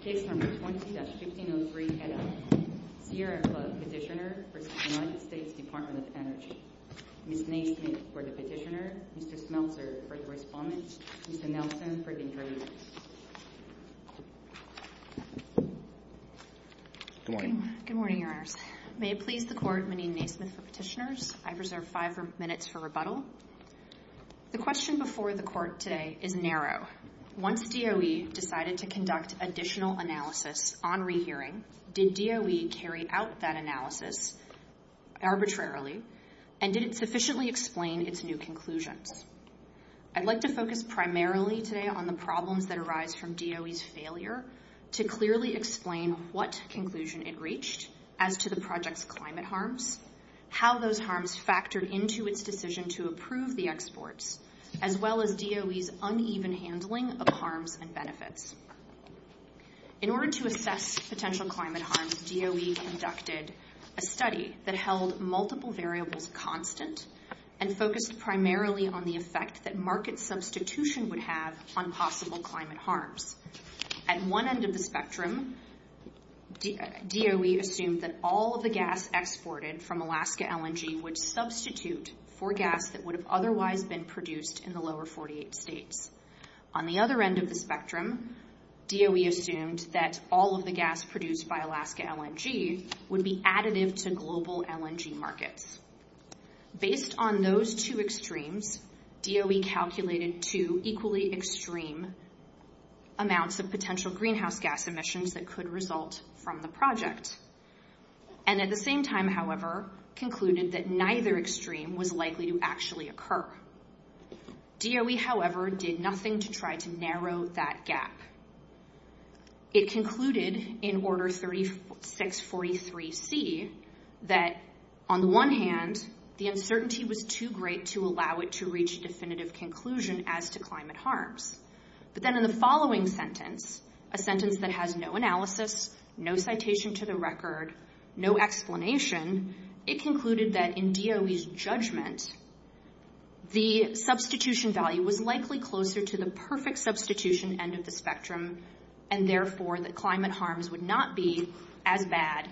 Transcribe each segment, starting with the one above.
Case No. 20-1503, Sierra Club, Petitioner v. United States Department of Energy Ms. Naismith for the Petitioner, Mr. Smeltzer for the Respondent, Mr. Nelson for the Interpreter Good morning. Good morning, Your Honors. May it please the Court, Meneen Naismith for Petitioners, I reserve five minutes for rebuttal. The question before the Court today is narrow. Once DOE decided to conduct additional analysis on rehearing, did DOE carry out that analysis arbitrarily and did it sufficiently explain its new conclusions? I'd like to focus primarily today on the problems that arise from DOE's failure to clearly explain what conclusion it reached as to the project's climate harms, how those harms factored into its decision to approve the exports, as well as DOE's uneven handling of harms and benefits. In order to assess potential climate harms, DOE conducted a study that held multiple variables constant and focused primarily on the effect that market substitution would have on possible climate harms. At one end of the spectrum, DOE assumed that all of the gas exported from Alaska LNG would substitute for gas that would have otherwise been produced in the lower 48 states. On the other end of the spectrum, DOE assumed that all of the gas produced by Alaska LNG would be additive to global LNG markets. Based on those two extremes, DOE calculated two equally extreme amounts of potential greenhouse gas emissions that could result from the project, and at the same time, however, concluded that neither extreme was likely to actually occur. DOE, however, did nothing to try to narrow that gap. It concluded in Order 3643C that, on the one hand, the uncertainty was too great to allow it to reach a definitive conclusion as to climate harms. But then in the following sentence, a sentence that has no analysis, no citation to the record, no explanation, it concluded that in DOE's judgment, the substitution value was likely closer to the perfect substitution end of the spectrum and, therefore, that climate harms would not be as bad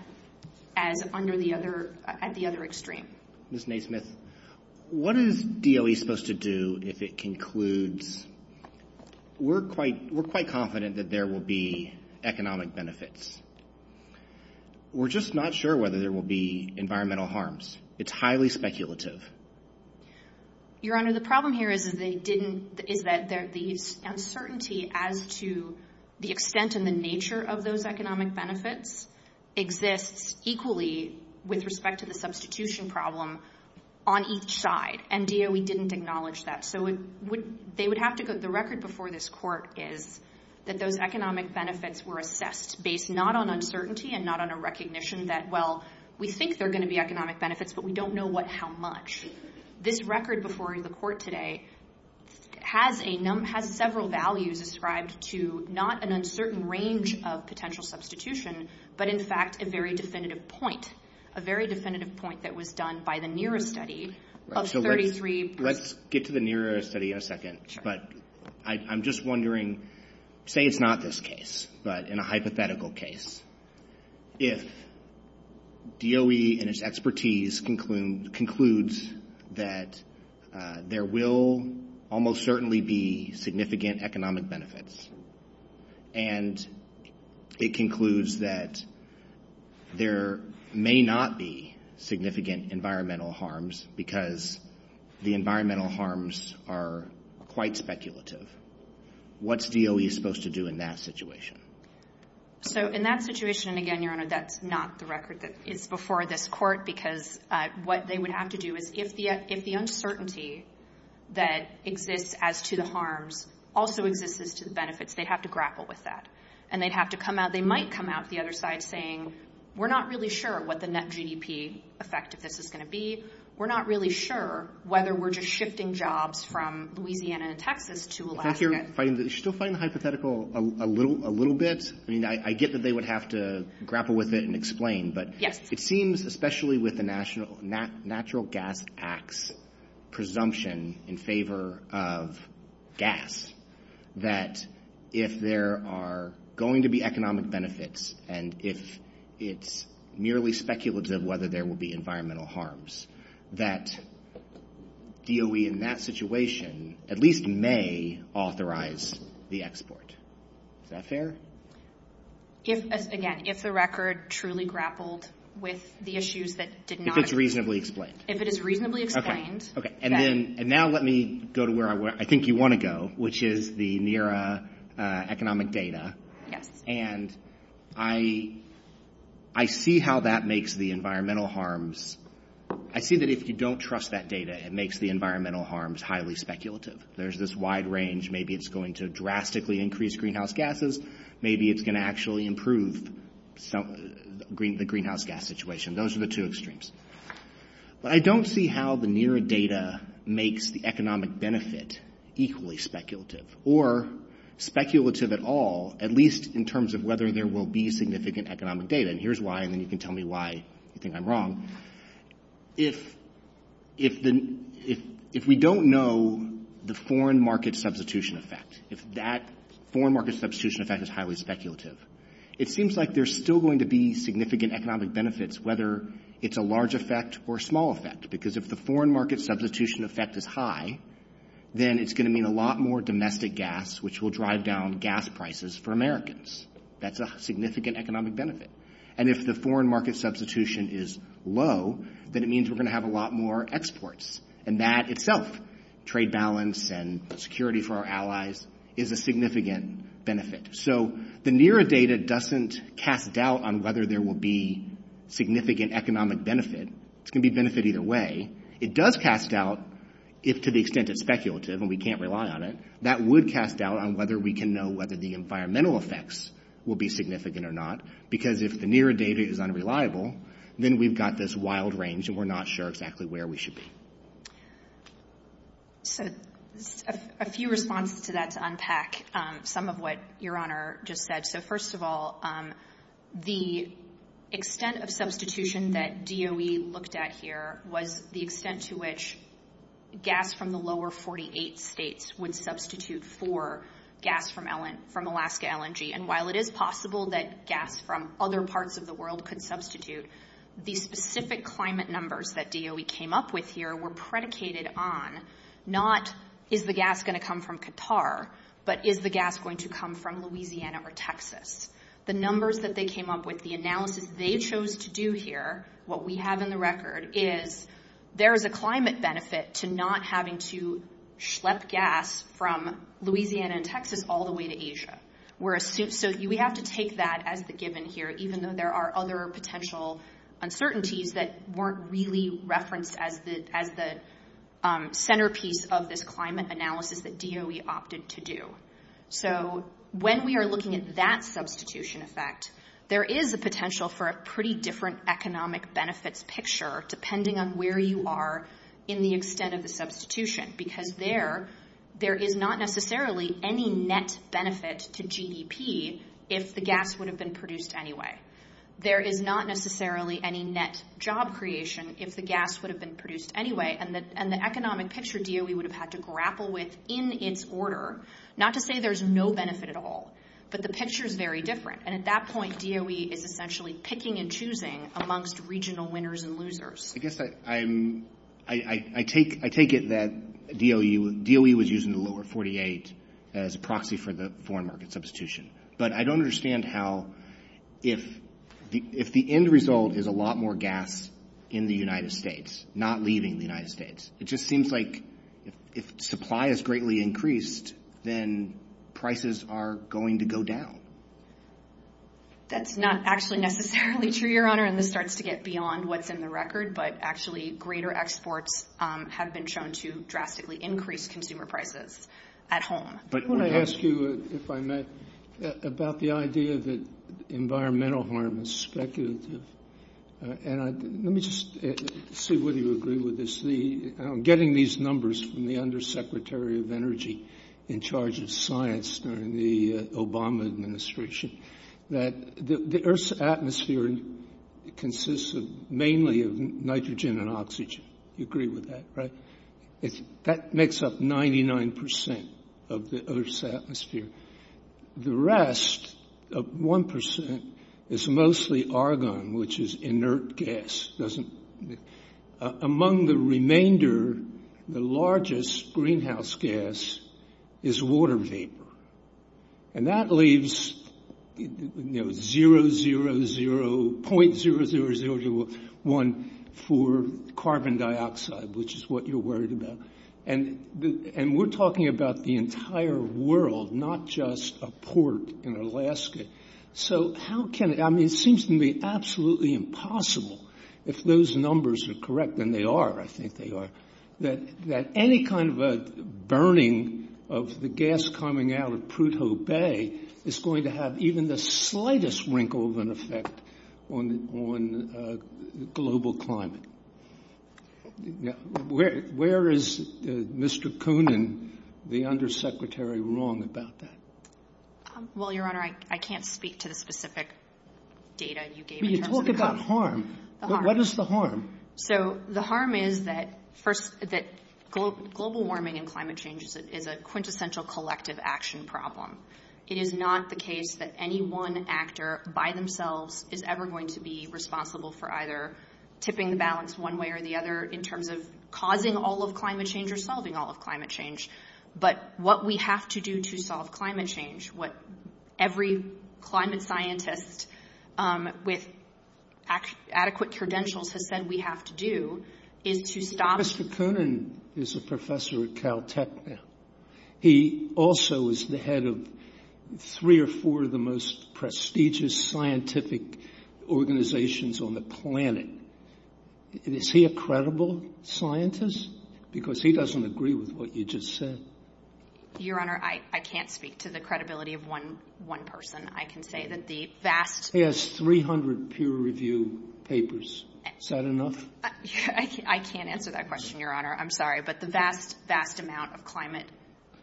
as at the other extreme. Ms. Naismith, what is DOE supposed to do if it concludes, we're quite confident that there will be economic benefits. We're just not sure whether there will be environmental harms. It's highly speculative. Your Honor, the problem here is that they didn't, is that the uncertainty as to the extent and the nature of those economic benefits exists equally with respect to the substitution problem on each side, and DOE didn't acknowledge that. The record before this Court is that those economic benefits were assessed based not on uncertainty and not on a recognition that, well, we think there are going to be economic benefits, but we don't know how much. This record before the Court today has several values ascribed to not an uncertain range of potential substitution, but, in fact, a very definitive point, a very definitive point that was done by the NERA study of 33 points. Let's get to the NERA study in a second, but I'm just wondering, say it's not this case, but in a hypothetical case, if DOE and its expertise concludes that there will almost certainly be significant economic benefits and it concludes that there may not be significant environmental harms because the environmental harms are quite speculative, what's DOE supposed to do in that situation? So, in that situation, again, Your Honor, that's not the record that is before this Court because what they would have to do is if the uncertainty that exists as to the harms also exists as to the benefits, they'd have to grapple with that, and they'd have to come out. They might come out the other side saying, we're not really sure what the net GDP effect of this is going to be. We're not really sure whether we're just shifting jobs from Louisiana and Texas to Alaska. If you're still fighting the hypothetical a little bit, I mean, I get that they would have to grapple with it and explain, but it seems, especially with the Natural Gas Act's presumption in favor of gas, that if there are going to be economic benefits and if it's merely speculative whether there will be environmental harms, that DOE in that situation at least may authorize the export. Is that fair? Again, if the record truly grappled with the issues that did not occur. If it's reasonably explained. If it is reasonably explained. Okay. And now let me go to where I think you want to go, which is the NERA economic data. Yes. And I see how that makes the environmental harms. I see that if you don't trust that data, it makes the environmental harms highly speculative. There's this wide range. Maybe it's going to drastically increase greenhouse gases. Maybe it's going to actually improve the greenhouse gas situation. Those are the two extremes. But I don't see how the NERA data makes the economic benefit equally speculative or speculative at all, at least in terms of whether there will be significant economic data. And here's why, and then you can tell me why you think I'm wrong. If we don't know the foreign market substitution effect, if that foreign market substitution effect is highly speculative, it seems like there's still going to be significant economic benefits, whether it's a large effect or a small effect. Because if the foreign market substitution effect is high, then it's going to mean a lot more domestic gas, which will drive down gas prices for Americans. That's a significant economic benefit. And if the foreign market substitution is low, then it means we're going to have a lot more exports. And that itself, trade balance and security for our allies, is a significant benefit. So the NERA data doesn't cast doubt on whether there will be significant economic benefit. It's going to be a benefit either way. It does cast doubt if, to the extent it's speculative and we can't rely on it, that would cast doubt on whether we can know whether the environmental effects will be significant or not. Because if the NERA data is unreliable, then we've got this wild range and we're not sure exactly where we should be. So a few responses to that to unpack some of what Your Honor just said. So first of all, the extent of substitution that DOE looked at here was the extent to which gas from the lower 48 states would substitute for gas from Alaska LNG. And while it is possible that gas from other parts of the world could substitute, the specific climate numbers that DOE came up with here were predicated on not is the gas going to come from Qatar, but is the gas going to come from Louisiana or Texas. The numbers that they came up with, the analysis they chose to do here, what we have in the record, is there is a climate benefit to not having to schlep gas from Louisiana and Texas all the way to Asia. So we have to take that as the given here, even though there are other potential uncertainties that weren't really referenced as the centerpiece of this climate analysis that DOE opted to do. So when we are looking at that substitution effect, there is a potential for a pretty different economic benefits picture depending on where you are in the extent of the substitution. Because there is not necessarily any net benefit to GDP if the gas would have been produced anyway. There is not necessarily any net job creation if the gas would have been produced anyway. And the economic picture DOE would have had to grapple with in its order, not to say there is no benefit at all, but the picture is very different. And at that point, DOE is essentially picking and choosing amongst regional winners and losers. I guess I take it that DOE was using the lower 48 as a proxy for the foreign market substitution. But I don't understand how, if the end result is a lot more gas in the United States, not leaving the United States, it just seems like if supply is greatly increased, then prices are going to go down. That's not actually necessarily true, Your Honor. And this starts to get beyond what's in the record. But actually greater exports have been shown to drastically increase consumer prices at home. I want to ask you, if I may, about the idea that environmental harm is speculative. And let me just see whether you agree with this. I'm getting these numbers from the Undersecretary of Energy in charge of science during the Obama administration, that the Earth's atmosphere consists mainly of nitrogen and oxygen. You agree with that, right? That makes up 99% of the Earth's atmosphere. The rest of 1% is mostly argon, which is inert gas. Among the remainder, the largest greenhouse gas is water vapor. And that leaves 0.00014 carbon dioxide, which is what you're worried about. And we're talking about the entire world, not just a port in Alaska. So how can it ‑‑ I mean, it seems to me absolutely impossible, if those numbers are correct, and they are, I think they are, that any kind of a burning of the gas coming out of Prudhoe Bay is going to have even the slightest wrinkle of an effect on global climate. Where is Mr. Koonin, the Undersecretary, wrong about that? Well, Your Honor, I can't speak to the specific data you gave in terms of the harm. But you talk about harm. What is the harm? So the harm is that, first, that global warming and climate change is a quintessential collective action problem. It is not the case that any one actor by themselves is ever going to be responsible for either tipping the balance one way or the other in terms of causing all of climate change or solving all of climate change. But what we have to do to solve climate change, what every climate scientist with adequate credentials has said we have to do, is to stop ‑‑ Mr. Koonin is a professor at Caltech now. He also is the head of three or four of the most prestigious scientific organizations on the planet. Is he a credible scientist? Because he doesn't agree with what you just said. Your Honor, I can't speak to the credibility of one person. I can say that the vast ‑‑ He has 300 peer review papers. Is that enough? I can't answer that question, Your Honor. I'm sorry. But the vast, vast amount of climate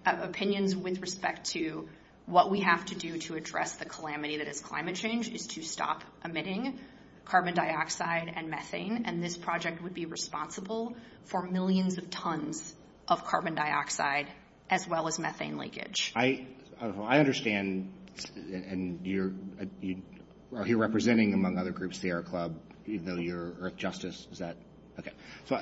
opinions with respect to what we have to do to address the calamity that is climate change is to stop emitting carbon dioxide and methane. And this project would be responsible for millions of tons of carbon dioxide as well as methane leakage. I understand. And you're representing, among other groups, Sierra Club, even though you're Earth Justice. Is that ‑‑ okay. So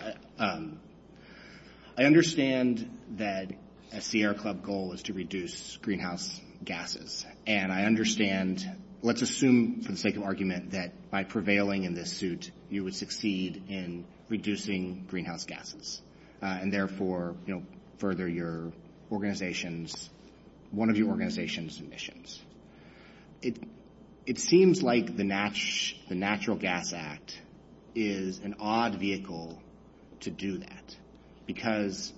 I understand that a Sierra Club goal is to reduce greenhouse gases. And I understand. Let's assume, for the sake of argument, that by prevailing in this suit, you would succeed in reducing greenhouse gases and therefore further your organization's ‑‑ one of your organization's missions. It seems like the Natural Gas Act is an odd vehicle to do that because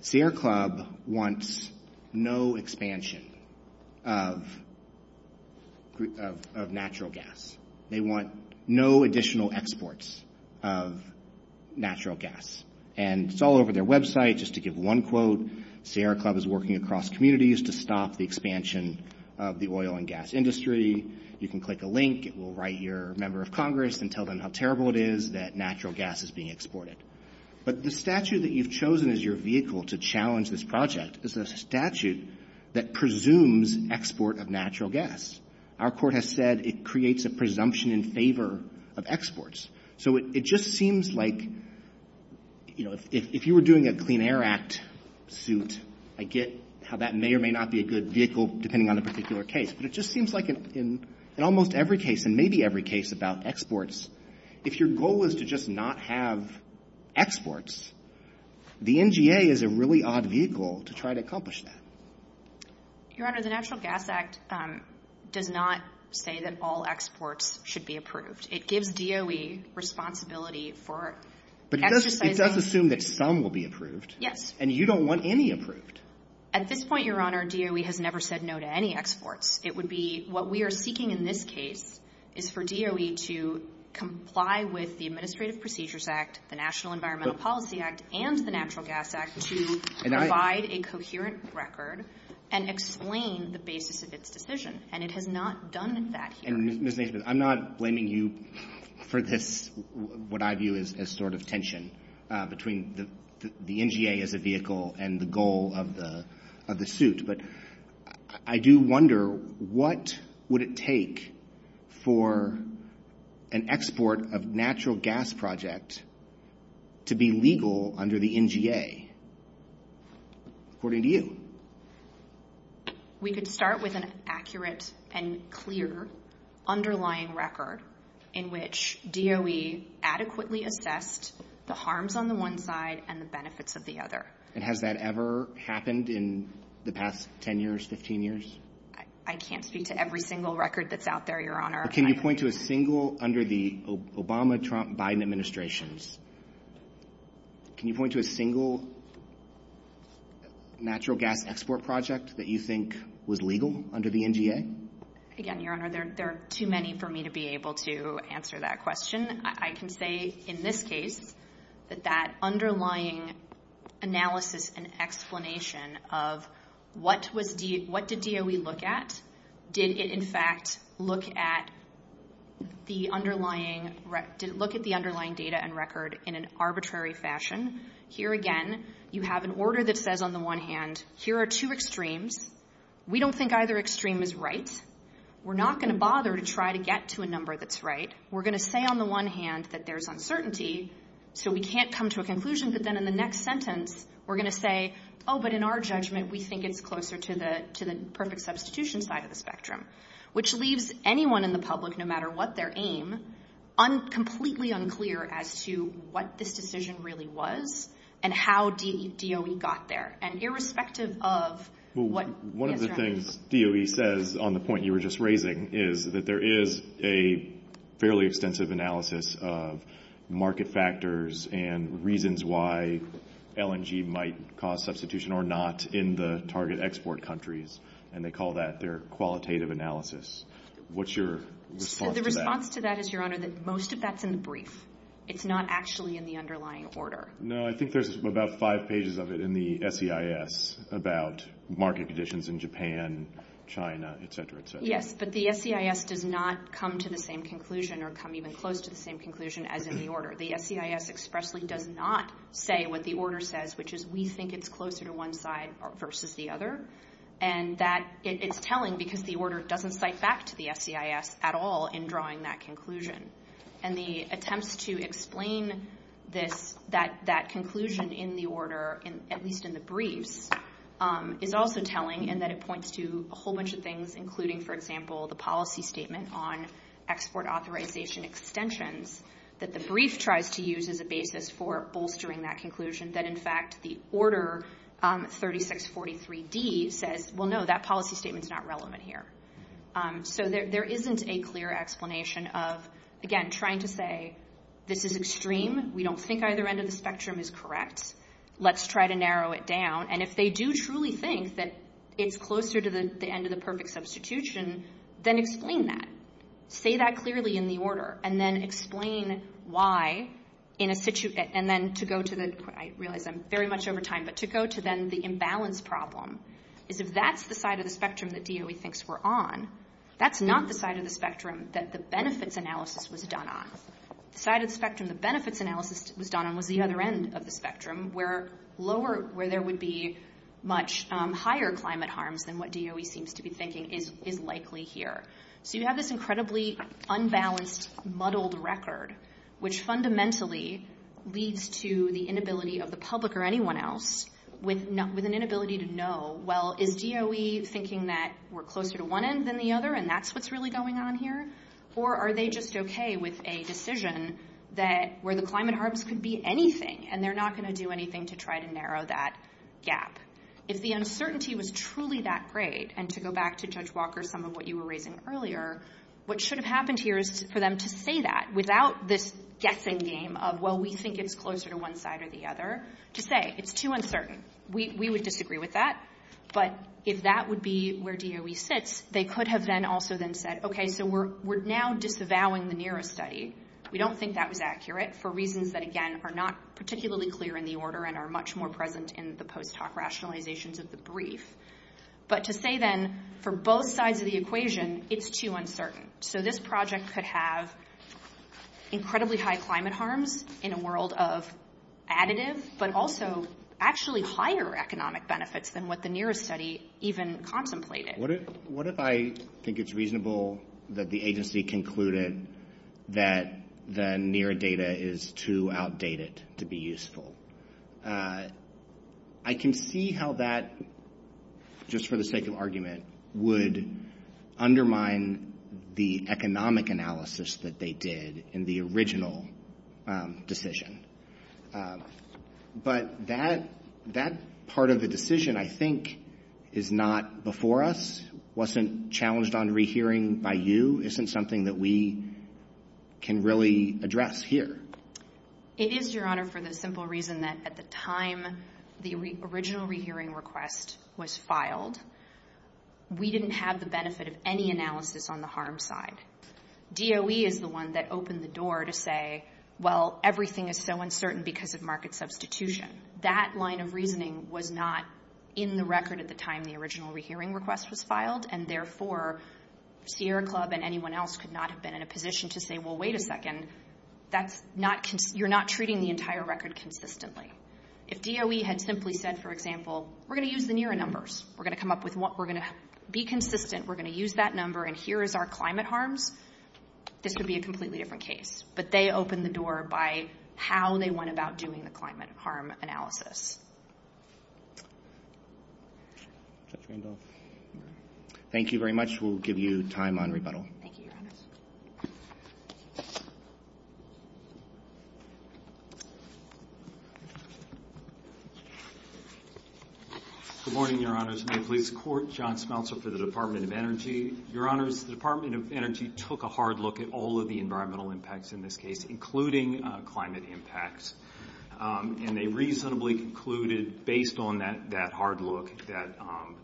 Sierra Club wants no expansion of natural gas. They want no additional exports of natural gas. And it's all over their website. Just to give one quote, Sierra Club is working across communities to stop the expansion of the oil and gas industry. You can click a link. It will write your member of Congress and tell them how terrible it is that natural gas is being exported. But the statute that you've chosen as your vehicle to challenge this project is a statute that presumes export of natural gas. Our court has said it creates a presumption in favor of exports. So it just seems like, you know, if you were doing a Clean Air Act suit, I get how that may or may not be a good vehicle depending on a particular case. But it just seems like in almost every case and maybe every case about exports, if your goal is to just not have exports, the NGA is a really odd vehicle to try to accomplish that. Your Honor, the Natural Gas Act does not say that all exports should be approved. It gives DOE responsibility for exercising ‑‑ But it does assume that some will be approved. Yes. And you don't want any approved. At this point, Your Honor, DOE has never said no to any exports. It would be what we are seeking in this case is for DOE to comply with the Administrative Procedures Act, the National Environmental Policy Act, and the Natural Gas Act to provide a coherent record and explain the basis of its decision. And it has not done that here. And, Ms. Naismith, I'm not blaming you for this, what I view as sort of tension between the NGA as a vehicle and the goal of the ‑‑ of the suit. But I do wonder, what would it take for an export of natural gas project to be legal under the NGA, according to you? We could start with an accurate and clear underlying record in which DOE adequately assessed the harms on the one side and the benefits of the other. And has that ever happened in the past 10 years, 15 years? I can't speak to every single record that's out there, Your Honor. Can you point to a single, under the Obama, Trump, Biden administrations, can you point to a single natural gas export project that you think was legal under the NGA? Again, Your Honor, there are too many for me to be able to answer that question. I can say in this case that that underlying analysis and explanation of what was ‑‑ what did DOE look at? Did it, in fact, look at the underlying ‑‑ look at the underlying data and record in an arbitrary fashion? Here again, you have an order that says on the one hand, here are two extremes. We don't think either extreme is right. We're not going to bother to try to get to a number that's right. We're going to say on the one hand that there's uncertainty, so we can't come to a conclusion. But then in the next sentence, we're going to say, oh, but in our judgment, we think it's closer to the perfect substitution side of the spectrum, which leaves anyone in the public, no matter what their aim, completely unclear as to what this decision really was and how DOE got there. And irrespective of what ‑‑ What DOE says on the point you were just raising is that there is a fairly extensive analysis of market factors and reasons why LNG might cause substitution or not in the target export countries, and they call that their qualitative analysis. What's your response to that? The response to that is, Your Honor, that most of that's in the brief. It's not actually in the underlying order. No, I think there's about five pages of it in the SEIS about market conditions in Japan, China, et cetera, et cetera. Yes, but the SEIS does not come to the same conclusion or come even close to the same conclusion as in the order. The SEIS expressly does not say what the order says, which is we think it's closer to one side versus the other, and that it's telling because the order doesn't cite back to the SEIS at all in drawing that conclusion. And the attempts to explain this, that conclusion in the order, at least in the briefs, is also telling in that it points to a whole bunch of things, including, for example, the policy statement on export authorization extensions that the brief tries to use as a basis for bolstering that conclusion, that in fact the order 3643D says, Well, no, that policy statement is not relevant here. So there isn't a clear explanation of, again, trying to say, This is extreme. We don't think either end of the spectrum is correct. Let's try to narrow it down. And if they do truly think that it's closer to the end of the perfect substitution, then explain that. Say that clearly in the order, and then explain why, and then to go to the, I realize I'm very much over time, but to go to then the imbalance problem, is if that's the side of the spectrum that DOE thinks we're on, that's not the side of the spectrum that the benefits analysis was done on. The side of the spectrum the benefits analysis was done on was the other end of the spectrum, where lower, where there would be much higher climate harms than what DOE seems to be thinking is likely here. So you have this incredibly unbalanced muddled record, which fundamentally leads to the inability of the public or anyone else, with an inability to know, Well, is DOE thinking that we're closer to one end than the other, and that's what's really going on here? Or are they just okay with a decision that where the climate harms could be anything, and they're not going to do anything to try to narrow that gap? If the uncertainty was truly that great, and to go back to Judge Walker, some of what you were raising earlier, what should have happened here is for them to say that without this guessing game of, Well, we think it's closer to one side or the other, to say it's too uncertain. We would disagree with that. But if that would be where DOE sits, they could have then also then said, Okay, so we're now disavowing the NERO study. We don't think that was accurate for reasons that, again, are not particularly clear in the order and are much more present in the post hoc rationalizations of the brief. But to say then, for both sides of the equation, it's too uncertain. So this project could have incredibly high climate harms in a world of additive, but also actually higher economic benefits than what the NERO study even contemplated. What if I think it's reasonable that the agency concluded that the NERO data is too outdated to be useful? I can see how that, just for the sake of argument, would undermine the economic analysis that they did in the original decision. But that part of the decision, I think, is not before us, wasn't challenged on rehearing by you, isn't something that we can really address here. It is, Your Honor, for the simple reason that at the time the original rehearing request was filed, we didn't have the benefit of any analysis on the harm side. DOE is the one that opened the door to say, Well, everything is so uncertain because of market substitution. That line of reasoning was not in the record at the time the original rehearing request was filed. And therefore, Sierra Club and anyone else could not have been in a position to say, Well, wait a second, you're not treating the entire record consistently. If DOE had simply said, for example, We're going to use the NERO numbers. We're going to be consistent. We're going to use that number. And here is our climate harms. This would be a completely different case. But they opened the door by how they went about doing the climate harm analysis. Thank you very much. We'll give you time on rebuttal. Thank you, Your Honors. Good morning, Your Honors. May it please the Court. John Smeltzer for the Department of Energy. Your Honors, the Department of Energy took a hard look at all of the environmental impacts in this case, including climate impacts. And they reasonably concluded, based on that hard look, that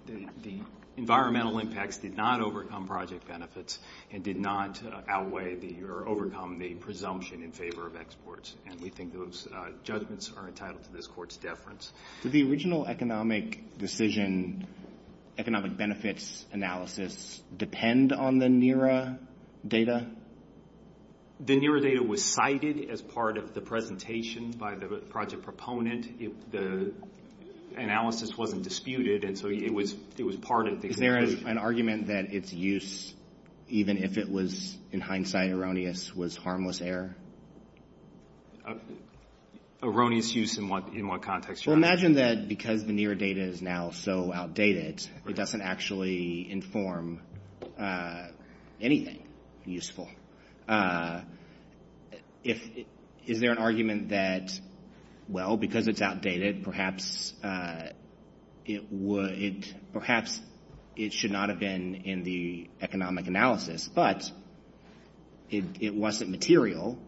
the environmental impacts did not overcome project benefits and did not outweigh or overcome the presumption in favor of exports. And we think those judgments are entitled to this Court's deference. Did the original economic decision, economic benefits analysis, depend on the NERA data? The NERA data was cited as part of the presentation by the project proponent. The analysis wasn't disputed, and so it was part of the analysis. Is there an argument that its use, even if it was in hindsight erroneous, was harmless error? Erroneous use in what context, Your Honor? Well, imagine that because the NERA data is now so outdated, it doesn't actually inform anything useful. Is there an argument that, well, because it's outdated, perhaps it should not have been in the economic analysis, but it wasn't material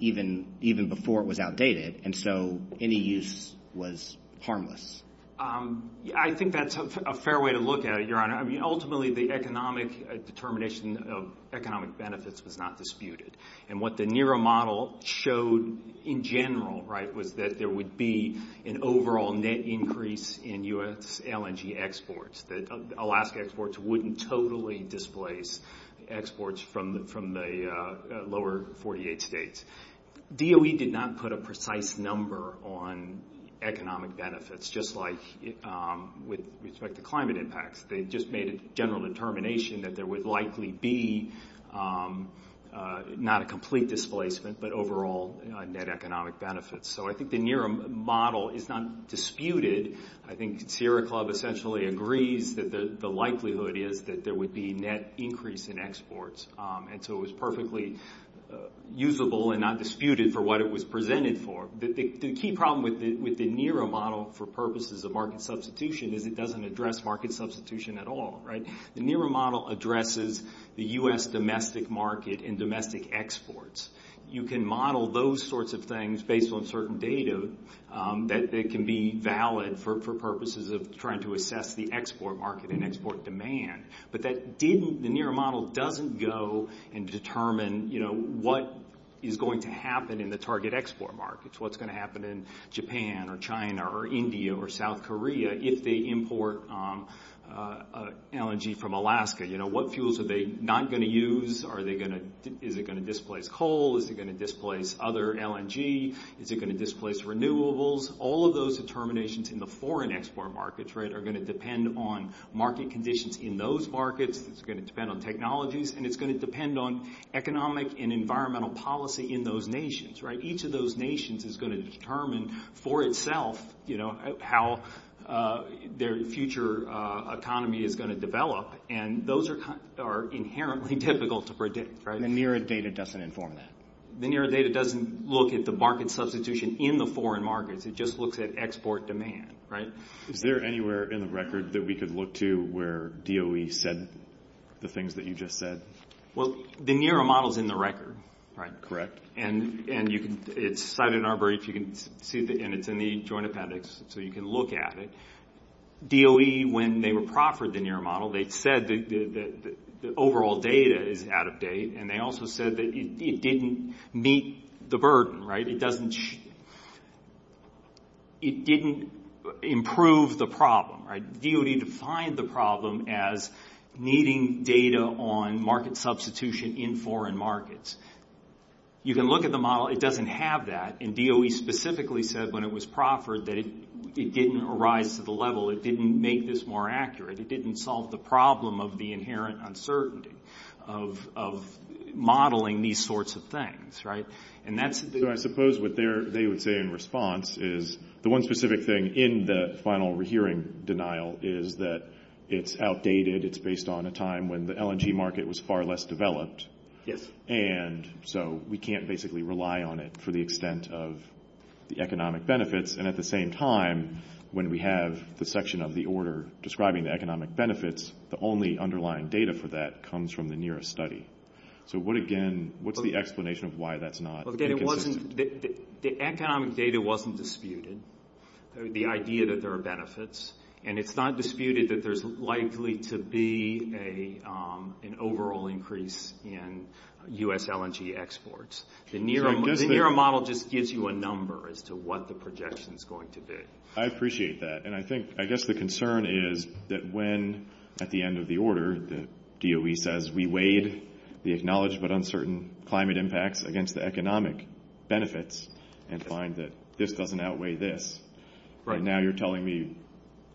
even before it was outdated, and so any use was harmless? I think that's a fair way to look at it, Your Honor. I mean, ultimately, the economic determination of economic benefits was not disputed, and what the NERA model showed in general was that there would be an overall net increase in U.S. LNG exports, that Alaska exports wouldn't totally displace exports from the lower 48 states. DOE did not put a precise number on economic benefits, just like with respect to climate impacts. They just made a general determination that there would likely be not a complete displacement, but overall net economic benefits. So I think the NERA model is not disputed. I think Sierra Club essentially agrees that the likelihood is that there would be net increase in exports, and so it was perfectly usable and not disputed for what it was presented for. The key problem with the NERA model for purposes of market substitution is it doesn't address market substitution at all, right? The NERA model addresses the U.S. domestic market and domestic exports. You can model those sorts of things based on certain data that can be valid for purposes of trying to assess the export market and export demand, but the NERA model doesn't go and determine, you know, what is going to happen in the target export markets, what's going to happen in Japan or China or India or South Korea if they import LNG from Alaska. You know, what fuels are they not going to use? Is it going to displace coal? Is it going to displace other LNG? Is it going to displace renewables? All of those determinations in the foreign export markets, right, are going to depend on market conditions in those markets. It's going to depend on technologies, and it's going to depend on economic and environmental policy in those nations, right? Each of those nations is going to determine for itself, you know, how their future economy is going to develop, and those are inherently difficult to predict, right? The NERA data doesn't inform that. The NERA data doesn't look at the market substitution in the foreign markets. It just looks at export demand, right? Is there anywhere in the record that we could look to where DOE said the things that you just said? Well, the NERA model is in the record, right? Correct. And it's cited in our brief, and it's in the Joint Appendix, so you can look at it. DOE, when they were proffered the NERA model, they said that the overall data is out of date, and they also said that it didn't meet the burden, right? It didn't improve the problem, right? DOE defined the problem as needing data on market substitution in foreign markets. You can look at the model. It doesn't have that, and DOE specifically said when it was proffered that it didn't arise to the level. It didn't make this more accurate. It didn't solve the problem of the inherent uncertainty of modeling these sorts of things, right? So I suppose what they would say in response is the one specific thing in the final rehearing denial is that it's outdated, it's based on a time when the LNG market was far less developed, and so we can't basically rely on it for the extent of the economic benefits. And at the same time, when we have the section of the order describing the economic benefits, the only underlying data for that comes from the NERA study. So what, again, what's the explanation of why that's not consistent? The economic data wasn't disputed, the idea that there are benefits, and it's not disputed that there's likely to be an overall increase in U.S. LNG exports. The NERA model just gives you a number as to what the projection is going to be. I appreciate that, and I guess the concern is that when, at the end of the order, the DOE says we weighed the acknowledged but uncertain climate impacts against the economic benefits and find that this doesn't outweigh this. And now you're telling me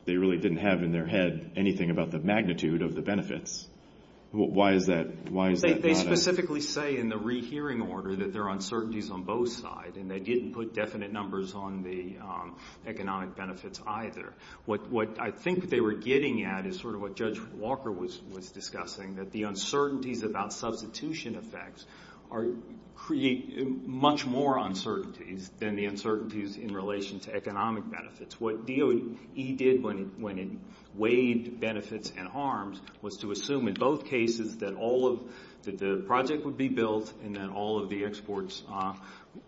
they really didn't have in their head anything about the magnitude of the benefits. Why is that? They specifically say in the rehearing order that there are uncertainties on both sides, and they didn't put definite numbers on the economic benefits either. What I think they were getting at is sort of what Judge Walker was discussing, that the uncertainties about substitution effects create much more uncertainties than the uncertainties in relation to economic benefits. What DOE did when it weighed benefits and harms was to assume in both cases that the project would be built and that all of the exports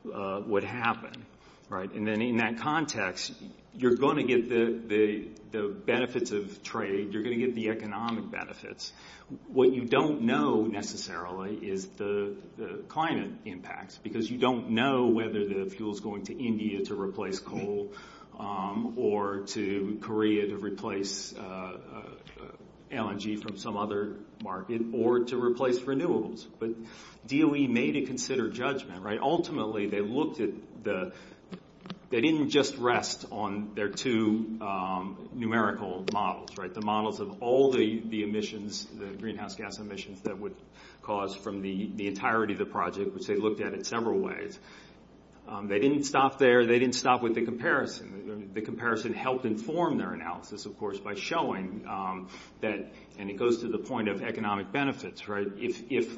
would happen. And then in that context, you're going to get the benefits of trade, you're going to get the economic benefits. What you don't know necessarily is the climate impacts because you don't know whether the fuel is going to India to replace coal or to Korea to replace LNG from some other market or to replace renewables. But DOE made a considered judgment. Ultimately, they didn't just rest on their two numerical models, the models of all the emissions, the greenhouse gas emissions, that would cause from the entirety of the project, which they looked at in several ways. They didn't stop there. They didn't stop with the comparison. The comparison helped inform their analysis, of course, by showing that, and it goes to the point of economic benefits, if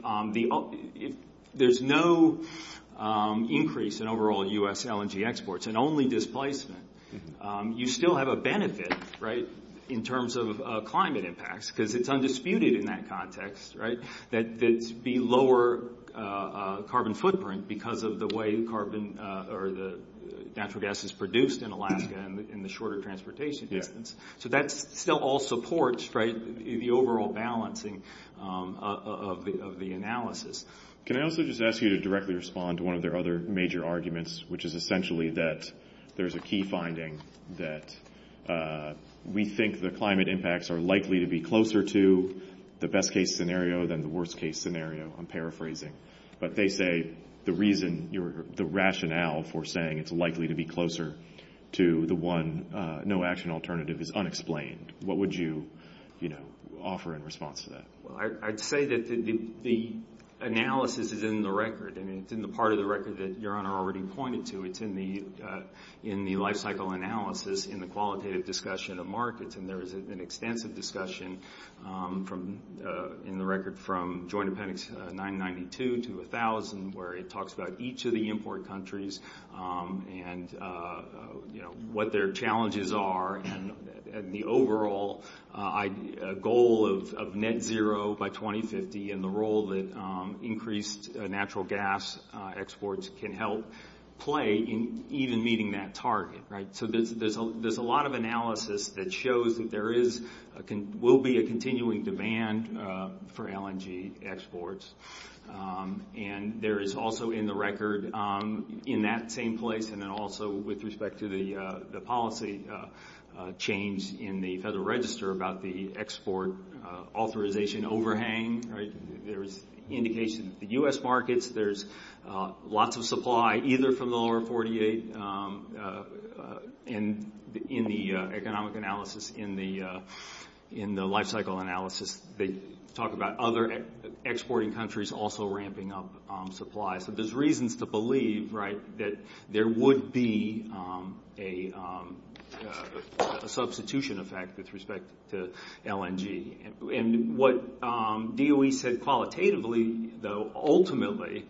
there's no increase in overall U.S. LNG exports and only displacement, you still have a benefit in terms of climate impacts because it's undisputed in that context that the lower carbon footprint because of the way natural gas is produced in Alaska and the shorter transportation distance. So that still all supports the overall balancing of the analysis. Can I also just ask you to directly respond to one of their other major arguments, which is essentially that there's a key finding that we think the climate impacts are likely to be closer to the best-case scenario than the worst-case scenario. I'm paraphrasing. But they say the reason, the rationale for saying it's likely to be closer to the one no-action alternative is unexplained. What would you offer in response to that? Well, I'd say that the analysis is in the record, and it's in the part of the record that Your Honor already pointed to. It's in the lifecycle analysis in the qualitative discussion of markets, and there is an extensive discussion in the record from Joint Appendix 992 to 1000 where it talks about each of the import countries and what their challenges are and the overall goal of net zero by 2050 and the role that increased natural gas exports can help play in even meeting that target. So there's a lot of analysis that shows that there will be a continuing demand for LNG exports, and there is also in the record in that same place and then also with respect to the policy change in the Federal Register about the export authorization overhang. There's indication that the U.S. markets, there's lots of supply either from the lower 48, and in the economic analysis, in the lifecycle analysis, they talk about other exporting countries also ramping up supply. So there's reasons to believe that there would be a substitution effect with respect to LNG. And what DOE said qualitatively, though, ultimately,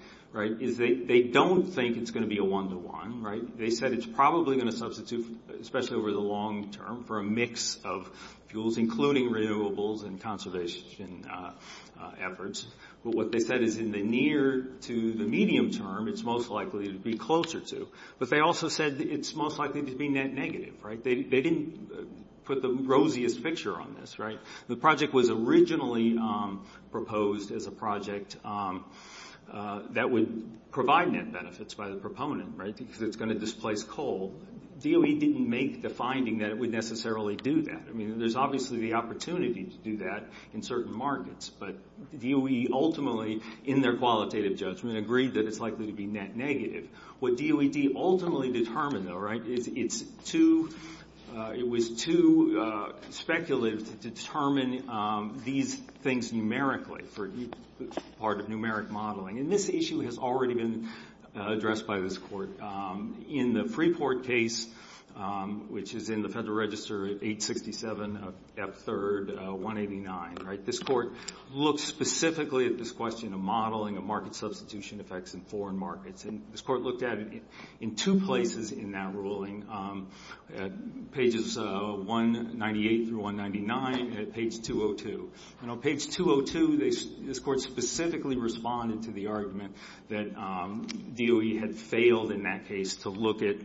is they don't think it's going to be a one-to-one. They said it's probably going to substitute, especially over the long term, for a mix of fuels, including renewables and conservation efforts. But what they said is in the near to the medium term, it's most likely to be closer to. But they also said it's most likely to be net negative. They didn't put the rosiest picture on this. The project was originally proposed as a project that would provide net benefits by the proponent because it's going to displace coal. DOE didn't make the finding that it would necessarily do that. I mean, there's obviously the opportunity to do that in certain markets. But DOE ultimately, in their qualitative judgment, agreed that it's likely to be net negative. What DOED ultimately determined, though, right, is it was too speculative to determine these things numerically for part of numeric modeling. And this issue has already been addressed by this court. In the Freeport case, which is in the Federal Register, 867 of F3, 189, this court looked specifically at this question of modeling of market substitution effects in foreign markets. And this court looked at it in two places in that ruling, pages 198 through 199 at page 202. And on page 202, this court specifically responded to the argument that DOE had failed in that case to look at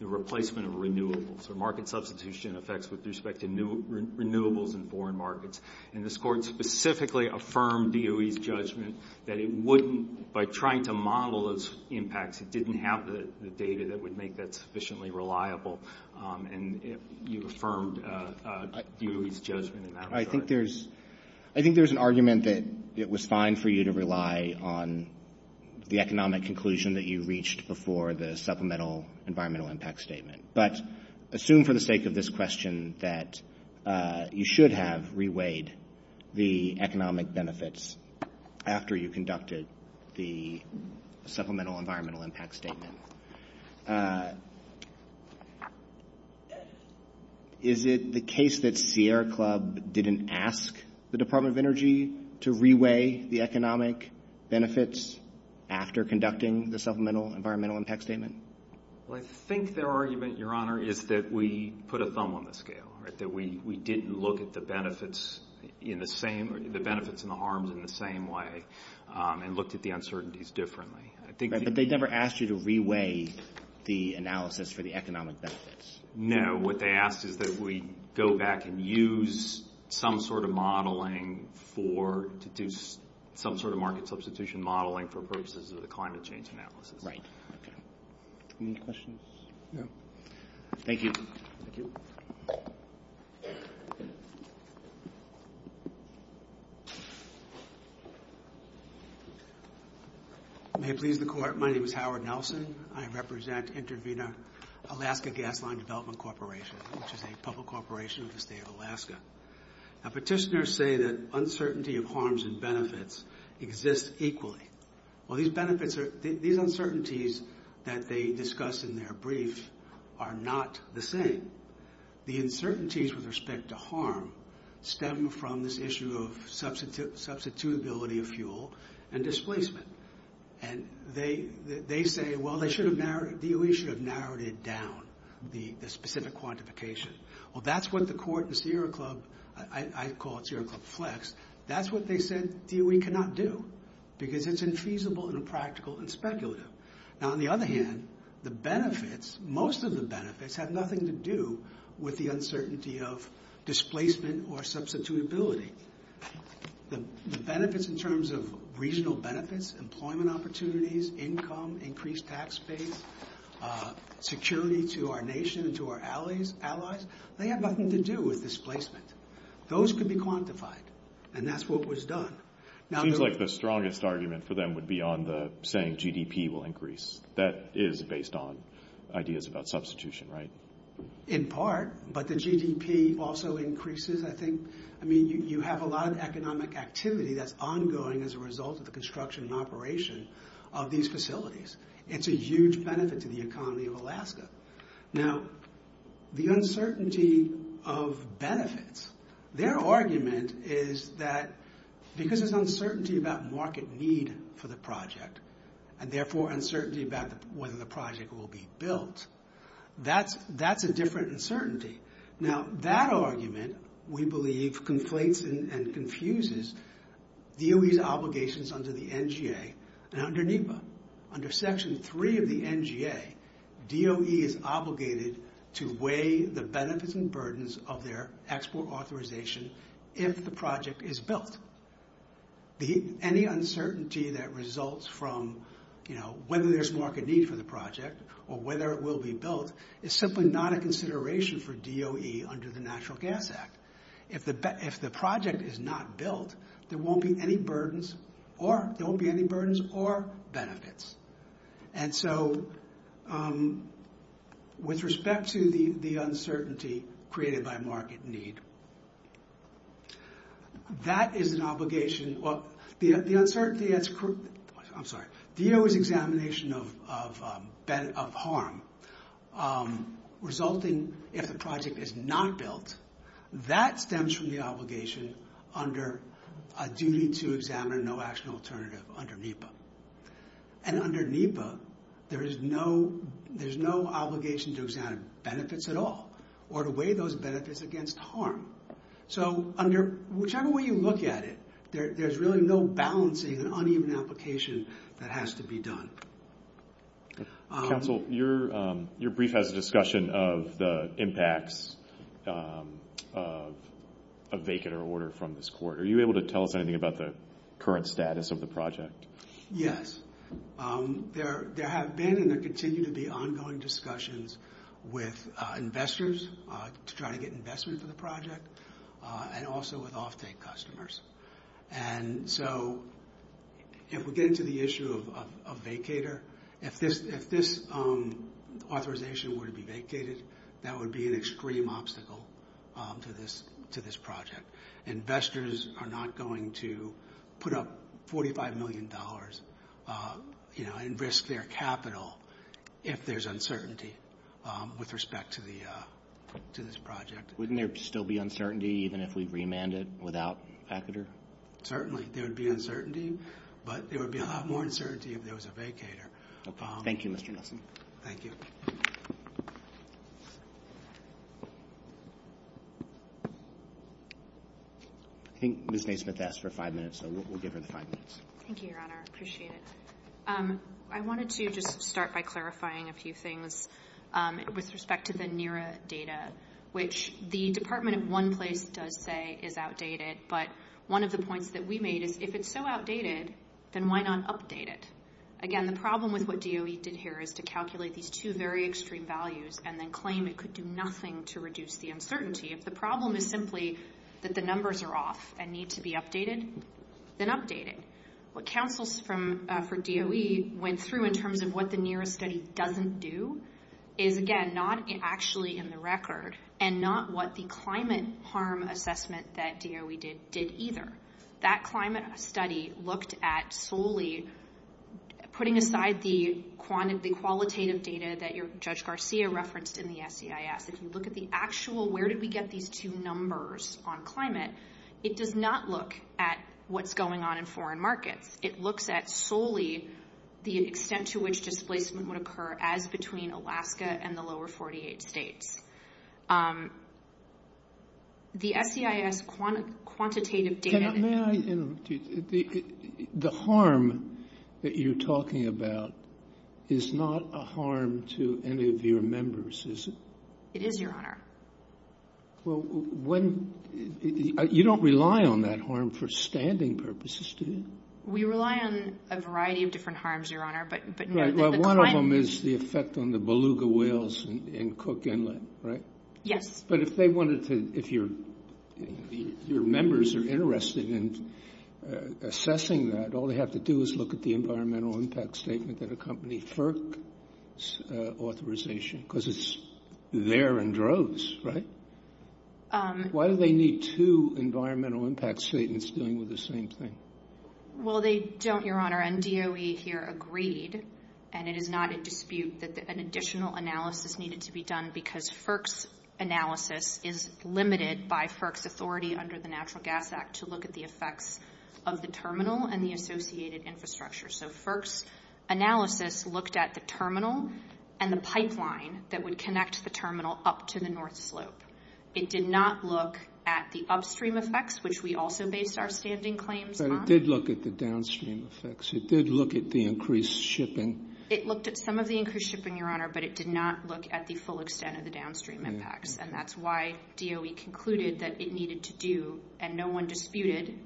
the replacement of renewables or market substitution effects with respect to renewables in foreign markets. And this court specifically affirmed DOE's judgment that it wouldn't, by trying to model those impacts, it didn't have the data that would make that sufficiently reliable. And you affirmed DOE's judgment in that regard. I think there's an argument that it was fine for you to rely on the economic conclusion that you reached before the supplemental environmental impact statement. But assume for the sake of this question that you should have reweighed the economic benefits after you conducted the supplemental environmental impact statement. Is it the case that Sierra Club didn't ask the Department of Energy to reweigh the economic benefits after conducting the supplemental environmental impact statement? Well, I think their argument, Your Honor, is that we put a thumb on the scale, right, that we didn't look at the benefits in the same, the benefits and the harms in the same way and looked at the uncertainties differently. But they never asked you to reweigh the analysis for the economic benefits? No. What they asked is that we go back and use some sort of modeling for, to do some sort of market substitution modeling for purposes of the climate change analysis. Right. Any questions? No. Thank you. Thank you. May it please the Court, my name is Howard Nelson. I represent Intervena Alaska Gas Line Development Corporation, which is a public corporation of the state of Alaska. Now, petitioners say that uncertainty of harms and benefits exists equally. Well, these benefits are, these uncertainties that they discuss in their brief are not the same. The uncertainties with respect to harm stem from this issue of substitutability of fuel and displacement. And they say, well, they should have, DOE should have narrowed it down, the specific quantification. Well, that's what the Court and Sierra Club, I call it Sierra Club Flex, that's what they said DOE cannot do because it's infeasible and impractical and speculative. Now, on the other hand, the benefits, most of the benefits, have nothing to do with the uncertainty of displacement or substitutability. The benefits in terms of regional benefits, employment opportunities, income, increased tax base, security to our nation and to our allies, they have nothing to do with displacement. Those could be quantified, and that's what was done. It seems like the strongest argument for them would be on the saying GDP will increase. That is based on ideas about substitution, right? In part, but the GDP also increases, I think. I mean, you have a lot of economic activity that's ongoing as a result of the construction and operation of these facilities. It's a huge benefit to the economy of Alaska. Now, the uncertainty of benefits, their argument is that because there's uncertainty about market need for the project and therefore uncertainty about whether the project will be built, that's a different uncertainty. Now, that argument, we believe, conflates and confuses DOE's obligations under the NGA and under NEPA. Under Section 3 of the NGA, DOE is obligated to weigh the benefits and burdens of their export authorization if the project is built. Any uncertainty that results from, you know, whether there's market need for the project or whether it will be built is simply not a consideration for DOE under the Natural Gas Act. If the project is not built, there won't be any burdens or benefits. And so, with respect to the uncertainty created by market need, that is an obligation. Well, DOE's examination of harm resulting if the project is not built, that stems from the obligation under a duty to examine no action alternative under NEPA. And under NEPA, there is no obligation to examine benefits at all or to weigh those benefits against harm. So, under whichever way you look at it, there's really no balancing and uneven application that has to be done. Counsel, your brief has a discussion of the impacts of a vacant or order from this court. Are you able to tell us anything about the current status of the project? Yes. There have been and there continue to be ongoing discussions with investors to try to get investment for the project and also with off-take customers. And so, if we get into the issue of a vacator, if this authorization were to be vacated, that would be an extreme obstacle to this project. Investors are not going to put up $45 million, you know, and risk their capital if there's uncertainty with respect to this project. Wouldn't there still be uncertainty even if we remanded without a vacator? Certainly. There would be uncertainty, but there would be a lot more uncertainty if there was a vacator. Thank you, Mr. Nelson. Thank you. I think Ms. Naismith asked for five minutes, so we'll give her the five minutes. Thank you, Your Honor. I appreciate it. I wanted to just start by clarifying a few things with respect to the NERA data, which the Department, in one place, does say is outdated. But one of the points that we made is if it's so outdated, then why not update it? Again, the problem with what DOE did here is to calculate these two very extreme values and then claim it could do nothing to reduce the uncertainty. If the problem is simply that the numbers are off and need to be updated, then update it. What counsels for DOE went through in terms of what the NERA study doesn't do is, again, not actually in the record and not what the climate harm assessment that DOE did did either. That climate study looked at solely putting aside the quantitative data that Judge Garcia referenced in the SEIS. If you look at the actual where did we get these two numbers on climate, it does not look at what's going on in foreign markets. It looks at solely the extent to which displacement would occur as between Alaska and the lower 48 states. The SEIS quantitative data- The harm that you're talking about is not a harm to any of your members, is it? It is, Your Honor. You don't rely on that harm for standing purposes, do you? We rely on a variety of different harms, Your Honor. One of them is the effect on the beluga whales in Cook Inlet, right? Yes. But if your members are interested in assessing that, all they have to do is look at the environmental impact statement that accompanied FERC's authorization because it's there in droves, right? Why do they need two environmental impact statements dealing with the same thing? Well, they don't, Your Honor, and DOE here agreed, and it is not a dispute, that an additional analysis needed to be done because FERC's analysis is limited by FERC's authority under the Natural Gas Act to look at the effects of the terminal and the associated infrastructure. So FERC's analysis looked at the terminal and the pipeline that would connect the terminal up to the North Slope. It did not look at the upstream effects, which we also based our standing claims on. But it did look at the downstream effects. It did look at the increased shipping. It looked at some of the increased shipping, Your Honor, but it did not look at the full extent of the downstream impacts. And that's why DOE concluded that it needed to do, and no one disputed,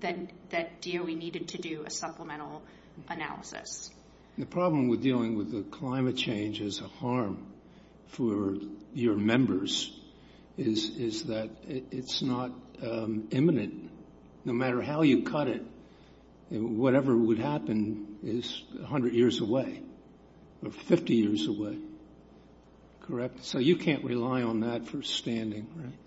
that DOE needed to do a supplemental analysis. The problem with dealing with the climate change as a harm for your members is that it's not imminent. No matter how you cut it, whatever would happen is 100 years away or 50 years away, correct? So you can't rely on that for standing, right?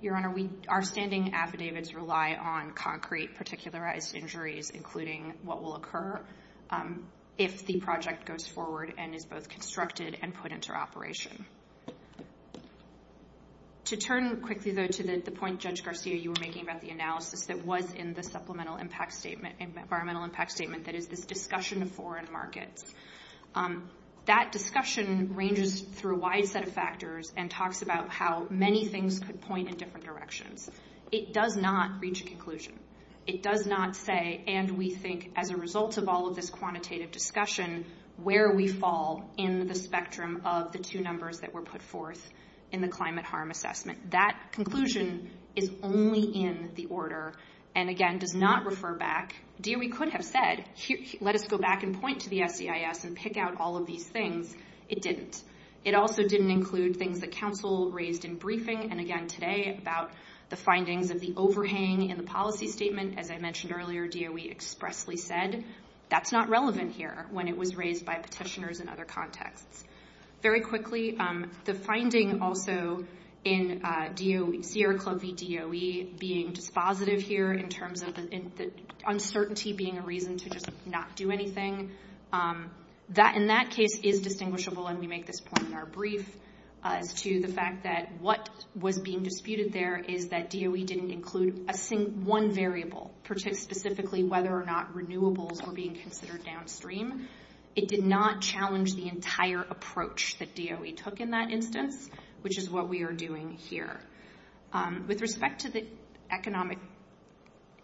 Your Honor, our standing affidavits rely on concrete particularized injuries, including what will occur if the project goes forward and is both constructed and put into operation. To turn quickly, though, to the point, Judge Garcia, you were making about the analysis that was in the supplemental impact statement, environmental impact statement, that is this discussion of foreign markets. That discussion ranges through a wide set of factors and talks about how many things could point in different directions. It does not reach a conclusion. It does not say, and we think as a result of all of this quantitative discussion, where we fall in the spectrum of the two numbers that were put forth in the climate harm assessment. That conclusion is only in the order and, again, does not refer back. DOE could have said, let us go back and point to the SEIS and pick out all of these things. It didn't. It also didn't include things that counsel raised in briefing and, again, today about the findings of the overhang in the policy statement. As I mentioned earlier, DOE expressly said that's not relevant here when it was raised by petitioners in other contexts. Very quickly, the finding also in Sierra Club v. DOE being dispositive here in terms of the uncertainty being a reason to just not do anything. That, in that case, is distinguishable, and we make this point in our brief as to the fact that what was being disputed there is that DOE didn't include one variable, specifically whether or not renewables were being considered downstream. It did not challenge the entire approach that DOE took in that instance, which is what we are doing here. With respect to the economic...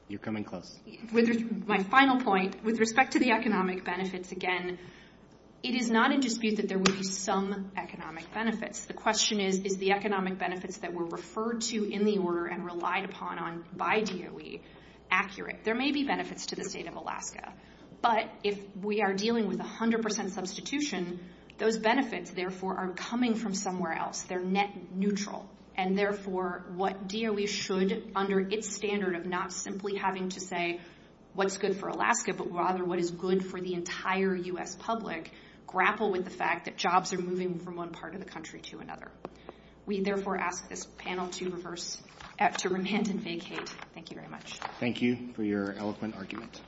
You're coming close. My final point, with respect to the economic benefits, again, it is not in dispute that there would be some economic benefits. The question is, is the economic benefits that were referred to in the order and relied upon by DOE accurate? There may be benefits to the state of Alaska, but if we are dealing with 100% substitution, those benefits, therefore, are coming from somewhere else. They're net neutral, and, therefore, what DOE should, under its standard of not simply having to say what's good for Alaska, but rather what is good for the entire U.S. public, grapple with the fact that jobs are moving from one part of the country to another. We, therefore, ask this panel to remand and vacate. Thank you very much. Thank you for your eloquent argument.